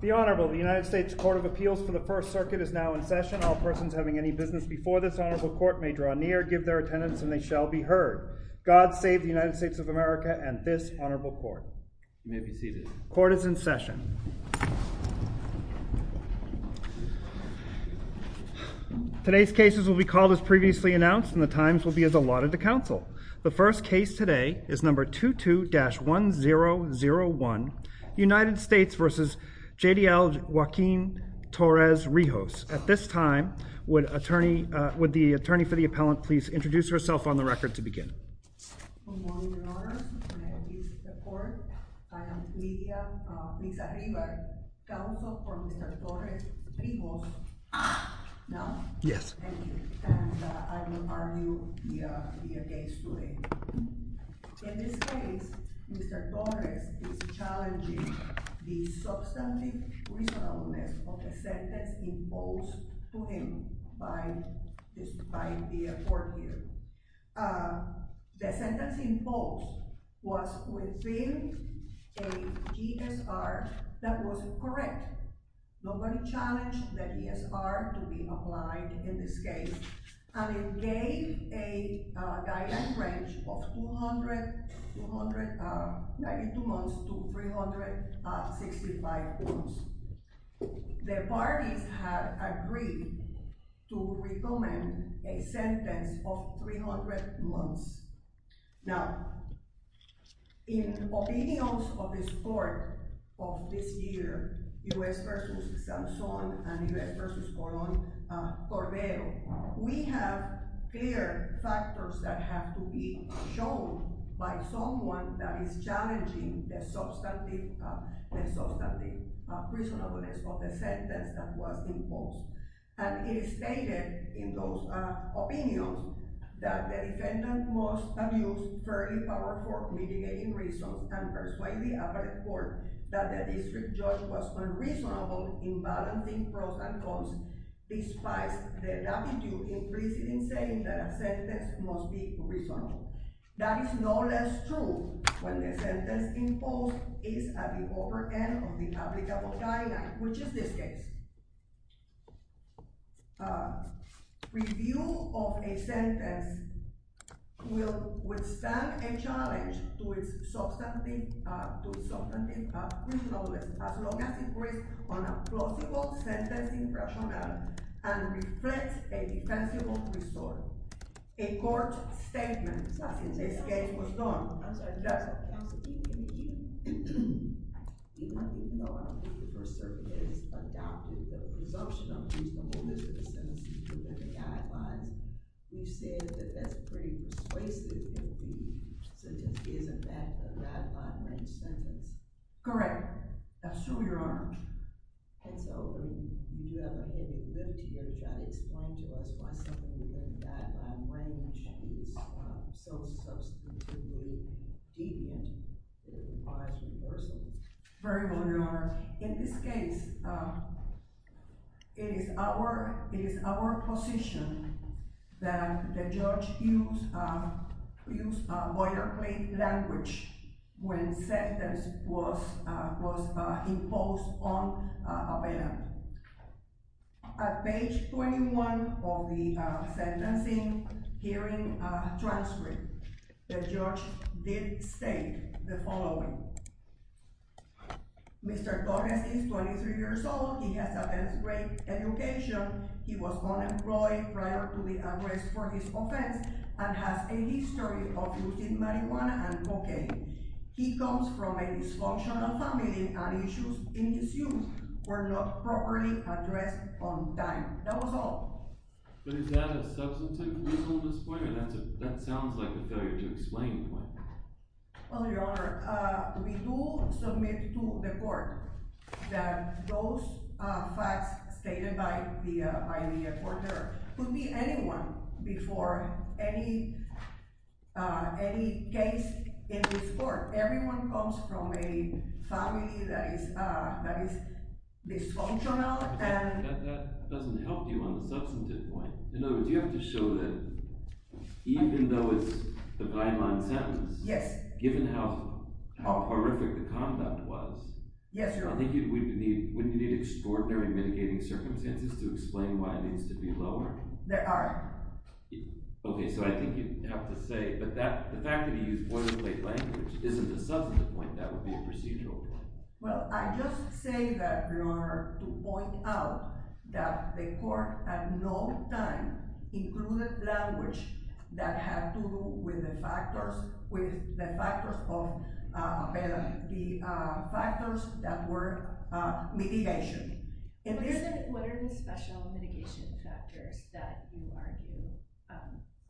The Honorable United States Court of Appeals for the First Circuit is now in session. All persons having any business before this Honorable Court may draw near, give their attendance and they shall be heard. God save the United States of America and this Honorable Court. You may be seated. Court is in session. Today's cases will be called as previously announced and the times will be as allotted to counsel. The first case today is number 22-1001, United States v. J.D.L. Joaquin Torres-Rijos. At this time, would the attorney for the appellant please introduce herself on the record to begin. Good morning, Your Honors. My name is Lydia Mizarribar, counsel for Mr. Torres-Rijos. I will argue the case today. In this case, Mr. Torres is challenging the substantive reasonableness of the sentence imposed to him by the court here. The sentence imposed was within a GSR that was correct. Nobody challenged the GSR to be applied in this case and it gave a guideline range of 292 months to 365 months. The parties have agreed to recommend a sentence of 300 months. Now, in opinions of this court of this year, U.S. v. Samson and U.S. v. Coron Corbello, we have clear factors that have to be shown by someone that is challenging the substantive reasonableness of the sentence that was imposed. And it is stated in those opinions that the defendant must abuse fairly powerful mitigating reasons and persuade the appellate court that the district judge was unreasonable in balancing pros and cons despite the latitude implicit in saying that a sentence must be reasonable. That is no less true when the sentence imposed is at the upper end of the applicable guideline, which is this case. Review of a sentence will withstand a challenge to its substantive reasonableness as long as it rests on a plausible sentence impression and reflects a defensible restore. A court statement was done. I'm sorry. Yes. I'm sorry. Even though I don't think the First Circuit has adopted the presumption of reasonable distance sentences within the guidelines, you said that that's pretty persuasive if the sentence is in fact a guideline range sentence. Correct. Now, show your arm. And so, you do have a heavy lift here. That explain to us why something like that is so substantively deviant. Very well. In this case, it is our it is our position that the judge use use a boilerplate language when sentence was was imposed on. At page 21 of the sentencing hearing transcript, the judge did state the following. Mr. Gomez is 23 years old. He has a great education. He was unemployed prior to the offense and has a history of using marijuana and cocaine. He comes from a dysfunctional family and issues in his youth were not properly addressed on time. That was all. But is that a substantive reasonableness point? That sounds like a go to explain point. Well, your honor, we do submit to the court that those facts stated by the by the court there could be anyone before any any case in this court. Everyone comes from a family that is that is dysfunctional and that doesn't help you on the substantive point. In other words, you have to show that even though it's the guideline sentence. Yes. Given how horrific the conduct was. Yes, your honor. I think we need we need extraordinary mitigating circumstances to explain why it needs to be lower. There are. OK, so I think you have to say that the fact that you use boilerplate language isn't a substantive point. That would be a procedural point. Well, I just say that, your honor, to point out that the court at no time included language that had to do with the factors with the factors of the factors that were mitigation. It isn't. What are the special mitigation factors that you argue?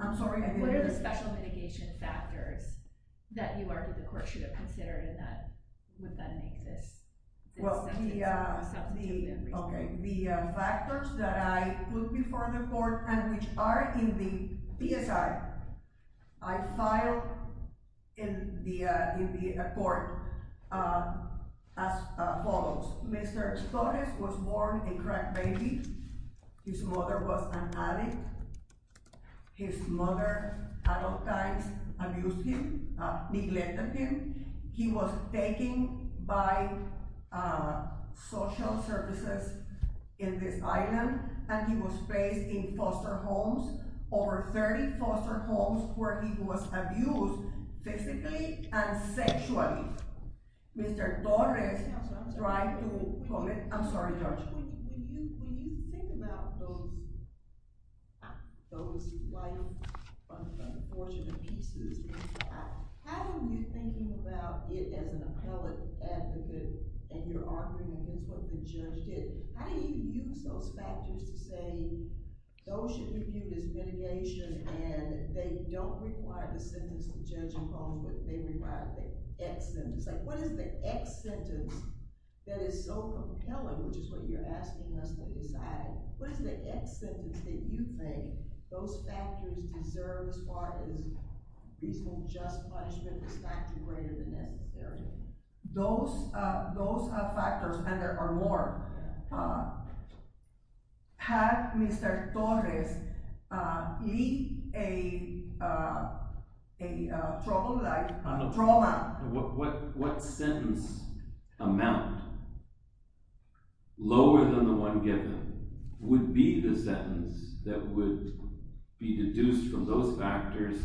I'm sorry. What are the special mitigation factors that you argue the court should have considered in that? Would that make this? Well, yeah, OK. The factors that I put before the court and which are in the PSI I filed in the in the court are as follows. Mr. Torres was born a baby. His mother was an addict. His mother, adult times, abused him, neglected him. He was taken by social services in this island and he was placed in foster homes, over 30 foster homes, where he was abused physically and sexually. Mr. Torres tried to quote it. I'm sorry, Judge. When you think about those those white unfortunate pieces, how do you think about it as an appellate advocate? And you're arguing against what the judge did. How do you use those factors to say those should be viewed as mitigation and they don't require the sentence the judge imposed, but they require the X sentence? Like what is the X sentence that is so compelling, which is what you're asking us to decide? What is the X sentence that you think those factors deserve as far as reasonable just punishment is factor greater than necessary? Those those are factors and there are more. Had Mr. Torres lead a a trouble like trauma? What sentence amount lower than the one given would be the sentence that would be deduced from those factors,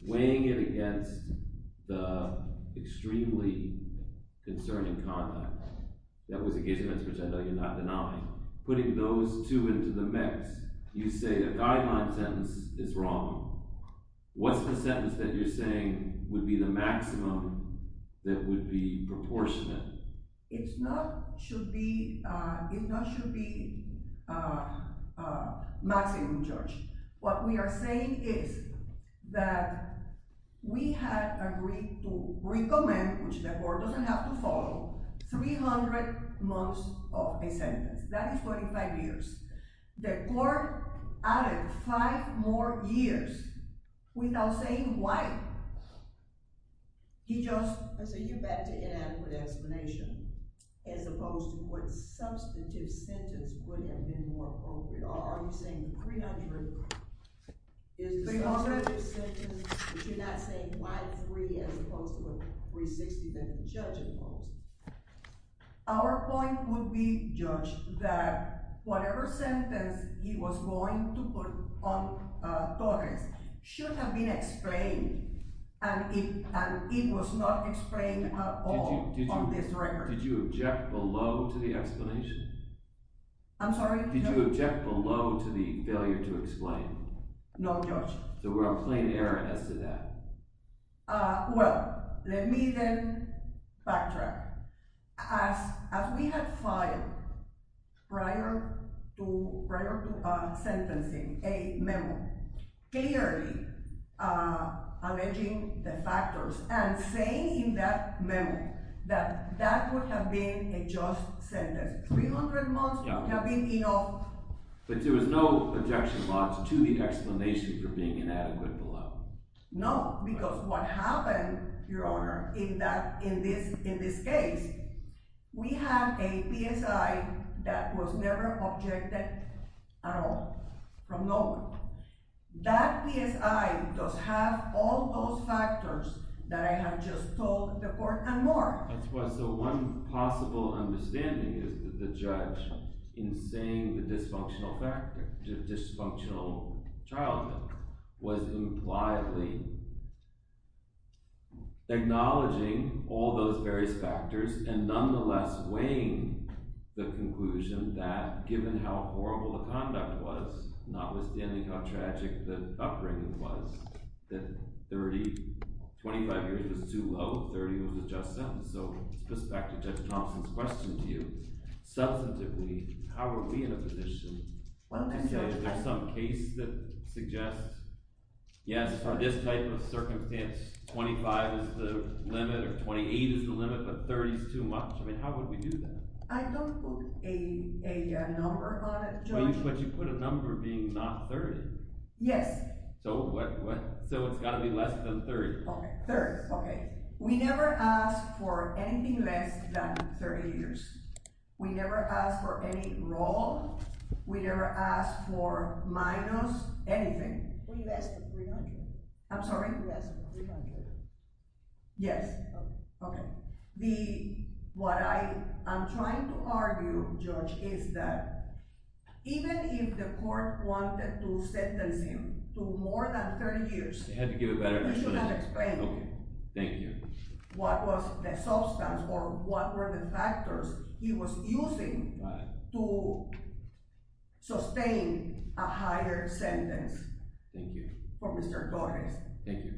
weighing it against the extremely concerning context? That was a case in which I know you're not denying putting those two into the mix. You say a guideline sentence is wrong. What's the sentence that you're saying would be the maximum that would be proportionate? It's not should be it not should be maximum, George. What we are saying is that we had agreed to recommend, which the court doesn't have to follow, 300 months of a sentence. That is 45 years. The court added five more years without saying why. He just I say you're back to inadequate explanation as opposed to what substantive sentence would have been more appropriate. Are you saying 300 is 300 sentences? You're not saying why three as opposed to a 360 that the judge imposed. Our point would be judged that whatever sentence he was going to put on should have been explained and it was not explained at all on this record. Did you object below to the explanation? I'm sorry. Did you object below to the failure to explain? No, George. So we're a plain error as to that. Well, let me then backtrack. As we had filed prior to prior to sentencing a memo clearly alleging the factors and saying that memo that that would have been a just sentence. 300 months have been enough. But there was no objection to the explanation for being inadequate below. No, because what happened, Your Honor, is that in this in this case, we have a PSI that was never objected at all from no one. That PSI does have all those factors that I have just told the court and more. That's why so one possible understanding is that the judge in saying the dysfunctional dysfunctional childhood was impliedly. Acknowledging all those various factors and nonetheless weighing the conclusion that given how horrible the conduct was, notwithstanding how tragic the upbringing was, that 30, 25 years was too low. 30 was a just sentence. So this goes back to Judge Thompson's question to you. Substantively, how are we in a position? Well, there's some case that suggests, yes, for this type of circumstance, 25 is the limit or 28 is the limit, but 30 is too much. I mean, how would we do that? I don't put a number on it, but you put a number being not 30. Yes. So what? So it's got to be less than 30. OK, we never asked for anything less than 30 years. We never asked for any role. We never asked for minus anything. I'm sorry. Yes. OK, the what I I'm trying to argue, George, is that even if the court wanted to sentence him to more than 30 years, they had to give a better explanation. OK, thank you. What was the substance or what were the factors he was using to sustain a higher sentence? Thank you. For Mr. Torres. Thank you.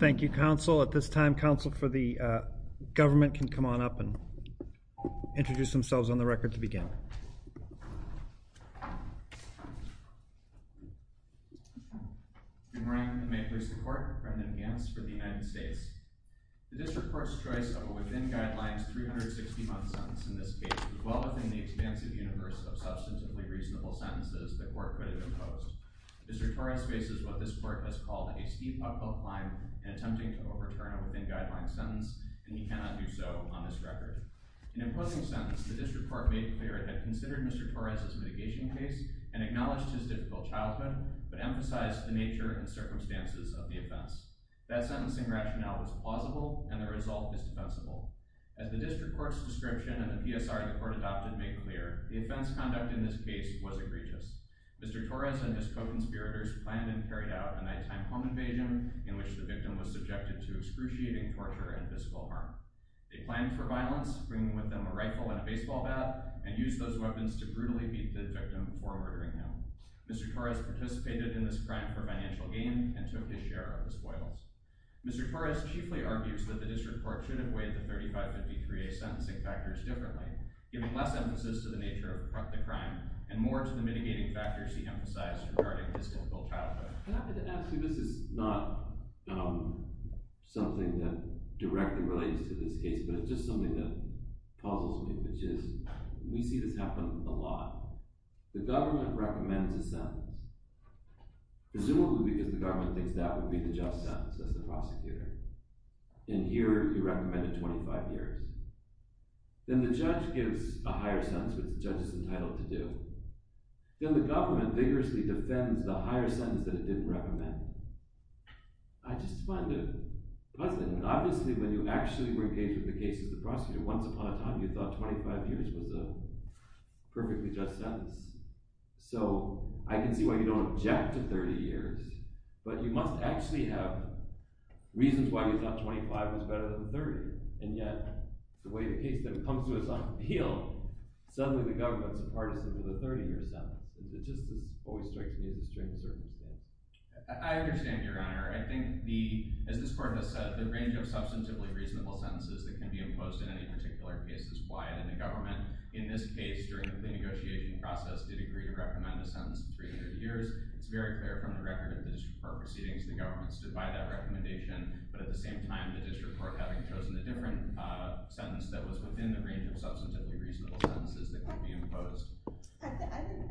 Thank you, counsel. At this time, counsel for the government can come on up and introduce themselves on the record to begin. Thank you. Good morning, and may it please the court. Brendan Gants for the United States. The district court's choice of a within guidelines 360 month sentence in this case was well within the expansive universe of substantively reasonable sentences the court could have imposed. Mr. Torres faces what this court has called a steep uphill climb in attempting to overturn a within guidelines sentence, and he cannot do so on this record. In imposing the sentence, the district court made clear it had considered Mr. Torres' mitigation case and acknowledged his difficult childhood, but emphasized the nature and circumstances of the offense. That sentencing rationale was plausible, and the result is defensible. As the district court's description and the PSR the court adopted made clear, the offense conducted in this case was egregious. Mr. Torres and his co-conspirators planned and carried out a nighttime home invasion in which the victim was subjected to excruciating torture and physical harm. They planned for violence, bringing with them a rifle and a baseball bat, and used those to beat the victim before murdering him. Mr. Torres participated in this crime for financial gain and took his share of the spoils. Mr. Torres chiefly argues that the district court should have weighed the 3553A sentencing factors differently, giving less emphasis to the nature of the crime and more to the mitigating factors he emphasized regarding his difficult childhood. I'm happy to add, see this is not something that directly relates to this case, but it's just something that puzzles me, which is, we see this happen a lot. The government recommends a sentence, presumably because the government thinks that would be the just sentence as the prosecutor, and here you recommend a 25 years. Then the judge gives a higher sentence, which the judge is entitled to do. Then the government vigorously defends the higher sentence that it didn't recommend. I just find it puzzling. Obviously when you actually were engaged with the case as the prosecutor, once upon a time you thought 25 years was a perfectly just sentence. So I can see why you don't object to 30 years, but you must actually have reasons why you thought 25 was better than 30. And yet, the way the case comes to us on appeal, suddenly the government's a partisan with a 30 year sentence. It just always strikes me as a strange circumstance. I understand your honor. I think the, as this court has said, the range of substantively reasonable sentences that can be imposed in any particular case is quiet in the government. In this case, during the negotiation process, it agreed to recommend a sentence of 300 years. It's very clear from the record that the district court proceedings, the government stood by that recommendation. But at the same time, the district court having chosen a different sentence that was within the range of substantively reasonable sentences that could be imposed. I think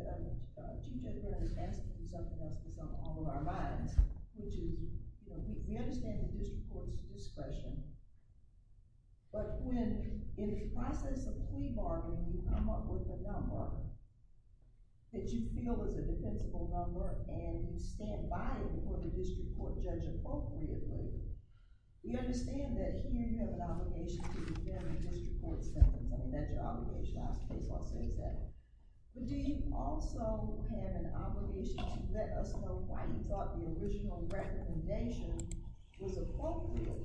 that Chief Judge Burns is asking something else that's on all of our minds. Which is, you know, we understand the district court's discretion. But when, in the process of plea bargaining, you come up with a number that you feel is a defensible number and you stand by it before the district court judge appropriately, we understand that he and you have an obligation to defend the district court's sentence. I mean, that's your obligation. I suppose I'll say that. But do you also have an obligation to let us know why you thought the original recommendation was appropriate?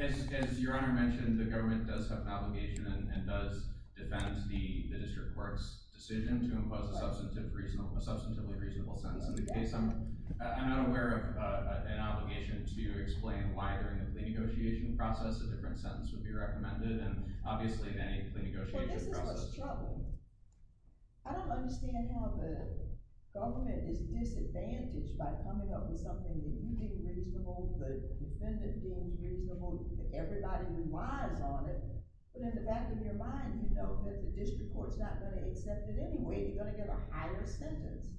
As Your Honor mentioned, the government does have an obligation and does defend the district court's decision to impose a substantively reasonable sentence. In this case, I'm not aware of an obligation to explain why, during the plea negotiation process, a different sentence would be recommended. And obviously, in any plea negotiation process— But this is what's troubling. I don't understand how the government is disadvantaged by coming up with something that you think reasonable, the defendant feels reasonable, everybody relies on it. But in the back of your mind, you know that the district court's not going to accept it anyway. You're going to get a higher sentence.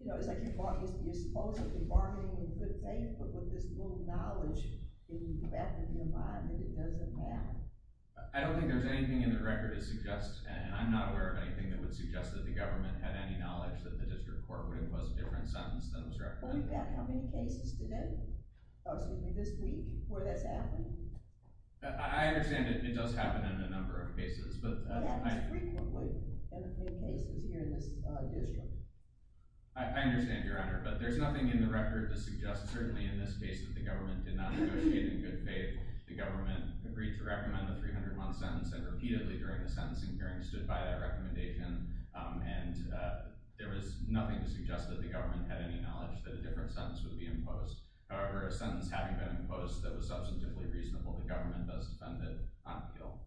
You know, it's like you're supposedly bargaining with good faith, but with this little knowledge in the back of your mind that it doesn't matter. I don't think there's anything in the record that suggests—and I'm not aware of anything that would suggest that the government had any knowledge that the district court would impose a different sentence than was recommended. Well, you've got how many cases today? Oh, excuse me, this week, where that's happened? I understand it does happen in a number of cases, but— Well, that happens frequently in a few cases here in this district. I understand, Your Honor, but there's nothing in the record to suggest, certainly in this case, that the government did not negotiate in good faith. The government agreed to recommend the 300-month sentence, and repeatedly, during the sentencing hearing, stood by that recommendation. And there was nothing to suggest that the government had any knowledge that a different sentence would be imposed. However, a sentence having been imposed that was substantively reasonable, the government does defend it on appeal.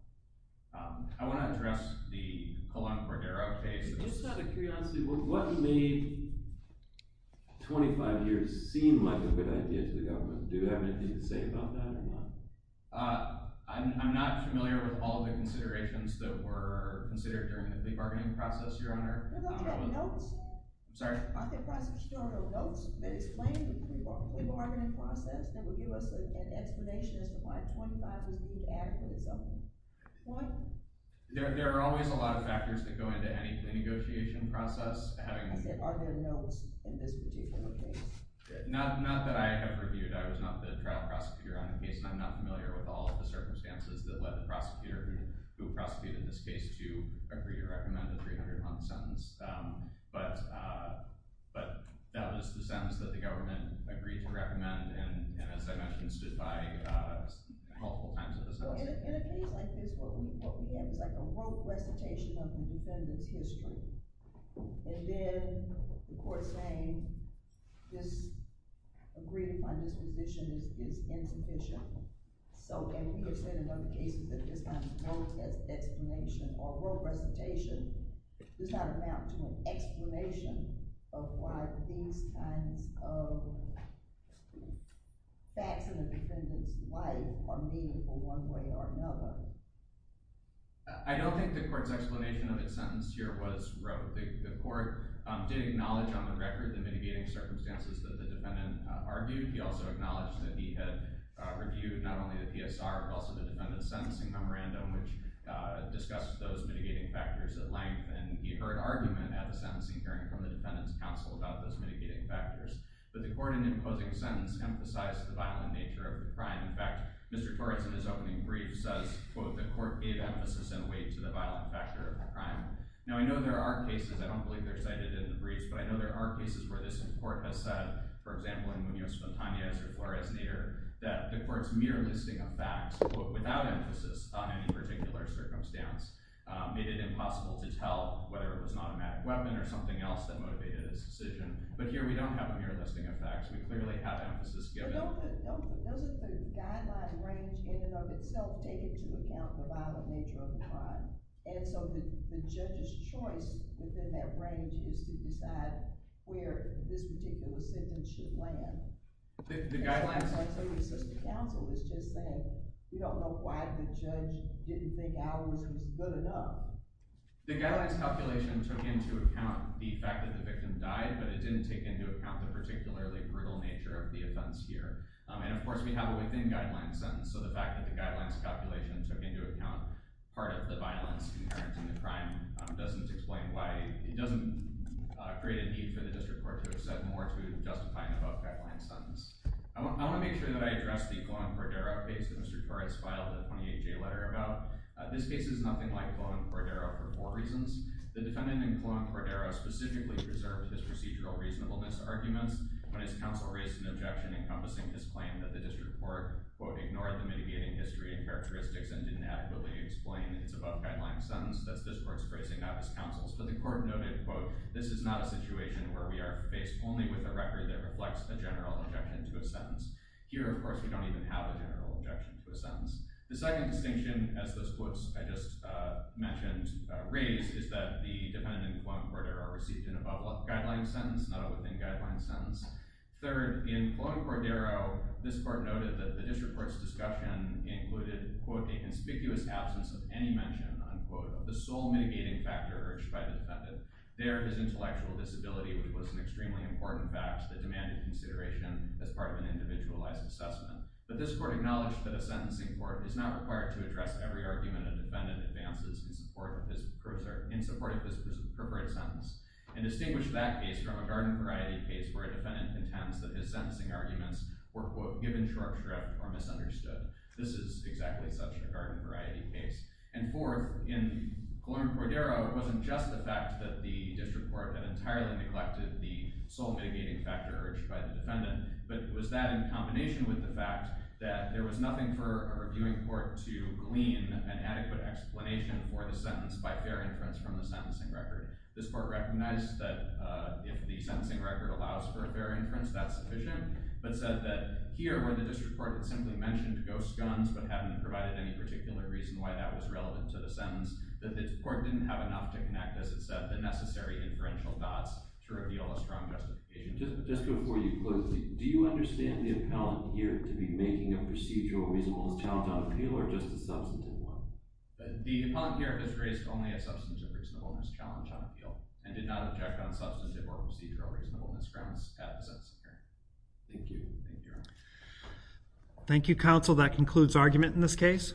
I want to address the Colon Cordero case— Just out of curiosity, what made 25 years seem like a good idea to the government? Do you have anything to say about that, or not? I'm not familiar with all of the considerations that were considered during the plea bargaining process, Your Honor. You're not getting notes? I'm sorry? Are there still no notes that explain the plea bargaining process that would give us an explanation as to why 25 was deemed adequate, or something? There are always a lot of factors that go into anything. The plea bargaining negotiation process— I said, are there notes in this particular case? Not that I have reviewed. I was not the trial prosecutor on the case, and I'm not familiar with all of the circumstances that led the prosecutor who prosecuted this case to agree to recommend a 300-month sentence. But that was the sentence that the government agreed to recommend, and as I mentioned, stood by multiple times in the sentencing hearing. In a case like this, what we had was a rote recitation of the defendant's history, and then the court saying this—agreeing upon this position is insufficient. And we have said in other cases that this kind of rote explanation or rote recitation does not amount to an explanation of why these kinds of facts in the defendant's life are meaningful one way or another. I don't think the court's explanation of its sentence here was rote. The court did acknowledge on the record the mitigating circumstances that the defendant argued. He also acknowledged that he had reviewed not only the PSR, but also the defendant's sentencing memorandum, which discussed those mitigating factors at length, and he heard argument at the sentencing hearing from the defendant's counsel about those mitigating factors. But the court, in imposing a sentence, emphasized the violent nature of the crime. In fact, Mr. Torres, in his opening brief, says, quote, the court gave emphasis and weight to the violent factor of the crime. Now, I know there are cases—I don't believe they're cited in the briefs—but I know there are cases where this court has said, for example, in Munoz-Fontanez or Flores-Nader, that the court's mere listing of facts, quote, without emphasis on any particular circumstance, made it impossible to tell whether it was an automatic weapon or something else that motivated his decision. But here, we don't have a mere listing of facts. We clearly have emphasis given. But don't the—doesn't the guideline range in and of itself take into account the violent nature of the crime? And so the judge's choice within that range is to decide where this particular sentence should land. The guidelines— It's not like somebody says to counsel, it's just saying, you don't know why the judge didn't think ours was good enough. The guidelines calculation took into account the fact that the victim died, but it didn't take into account the particularly brutal nature of the offense here. And, of course, we have a within-guideline sentence, so the fact that the guidelines calculation took into account part of the violence inherent in the crime doesn't explain why—it doesn't create a need for the district court to have said more to justify an above-guideline sentence. I want to make sure that I address the Cuaron-Cordero case that Mr. Torres filed a 28-J letter about. This case is nothing like Cuaron-Cordero for four reasons. The defendant in Cuaron-Cordero specifically preserved his procedural reasonableness arguments when his counsel raised an objection encompassing his claim that the district court, quote, ignored the mitigating history and characteristics and didn't adequately explain its above-guideline sentence, thus this court's phrasing of his counsel's. But the court noted, quote, this is not a situation where we are faced only with a record that reflects a general objection to a sentence. Here, of course, we don't even have a general objection to a sentence. The second distinction, as those quotes I just mentioned raise, is that the defendant in Cuaron-Cordero received an above-guideline sentence, not a within-guideline sentence. Third, in Cuaron-Cordero, this court noted that the district court's discussion included, quote, a conspicuous absence of any mention, unquote, of the sole mitigating factor urged by the defendant. There, his intellectual disability was an extremely important fact that demanded consideration as part of an individualized assessment. But this court acknowledged that a sentencing court is not required to address every argument a defendant advances in support of his appropriate sentence and distinguished that case from a garden-variety case where a defendant intends that his sentencing arguments were, quote, given short shrift or misunderstood. This is exactly such a garden-variety case. And fourth, in Cuaron-Cordero, it wasn't just the fact that the district court had entirely neglected the sole mitigating factor urged by the defendant, but was that in combination with the fact that there was nothing for a reviewing court to glean an adequate explanation for the sentence by fair inference from the sentencing record. This court recognized that if the sentencing record allows for a fair inference, that's sufficient, but said that here, where the district court had simply mentioned ghost guns but hadn't provided any particular reason why that was relevant to the sentence, that the court didn't have enough to connect, as it said, the necessary inferential dots to reveal a strong justification. Just before you close, do you understand the appellant here to be making a procedural reasonableness challenge on appeal or just a substantive one? The appellant here has raised only a substantive reasonableness challenge on appeal and did not object on substantive or procedural reasonableness grounds at the sentencing hearing. Thank you. Thank you, Your Honor. Thank you, counsel. That concludes argument in this case.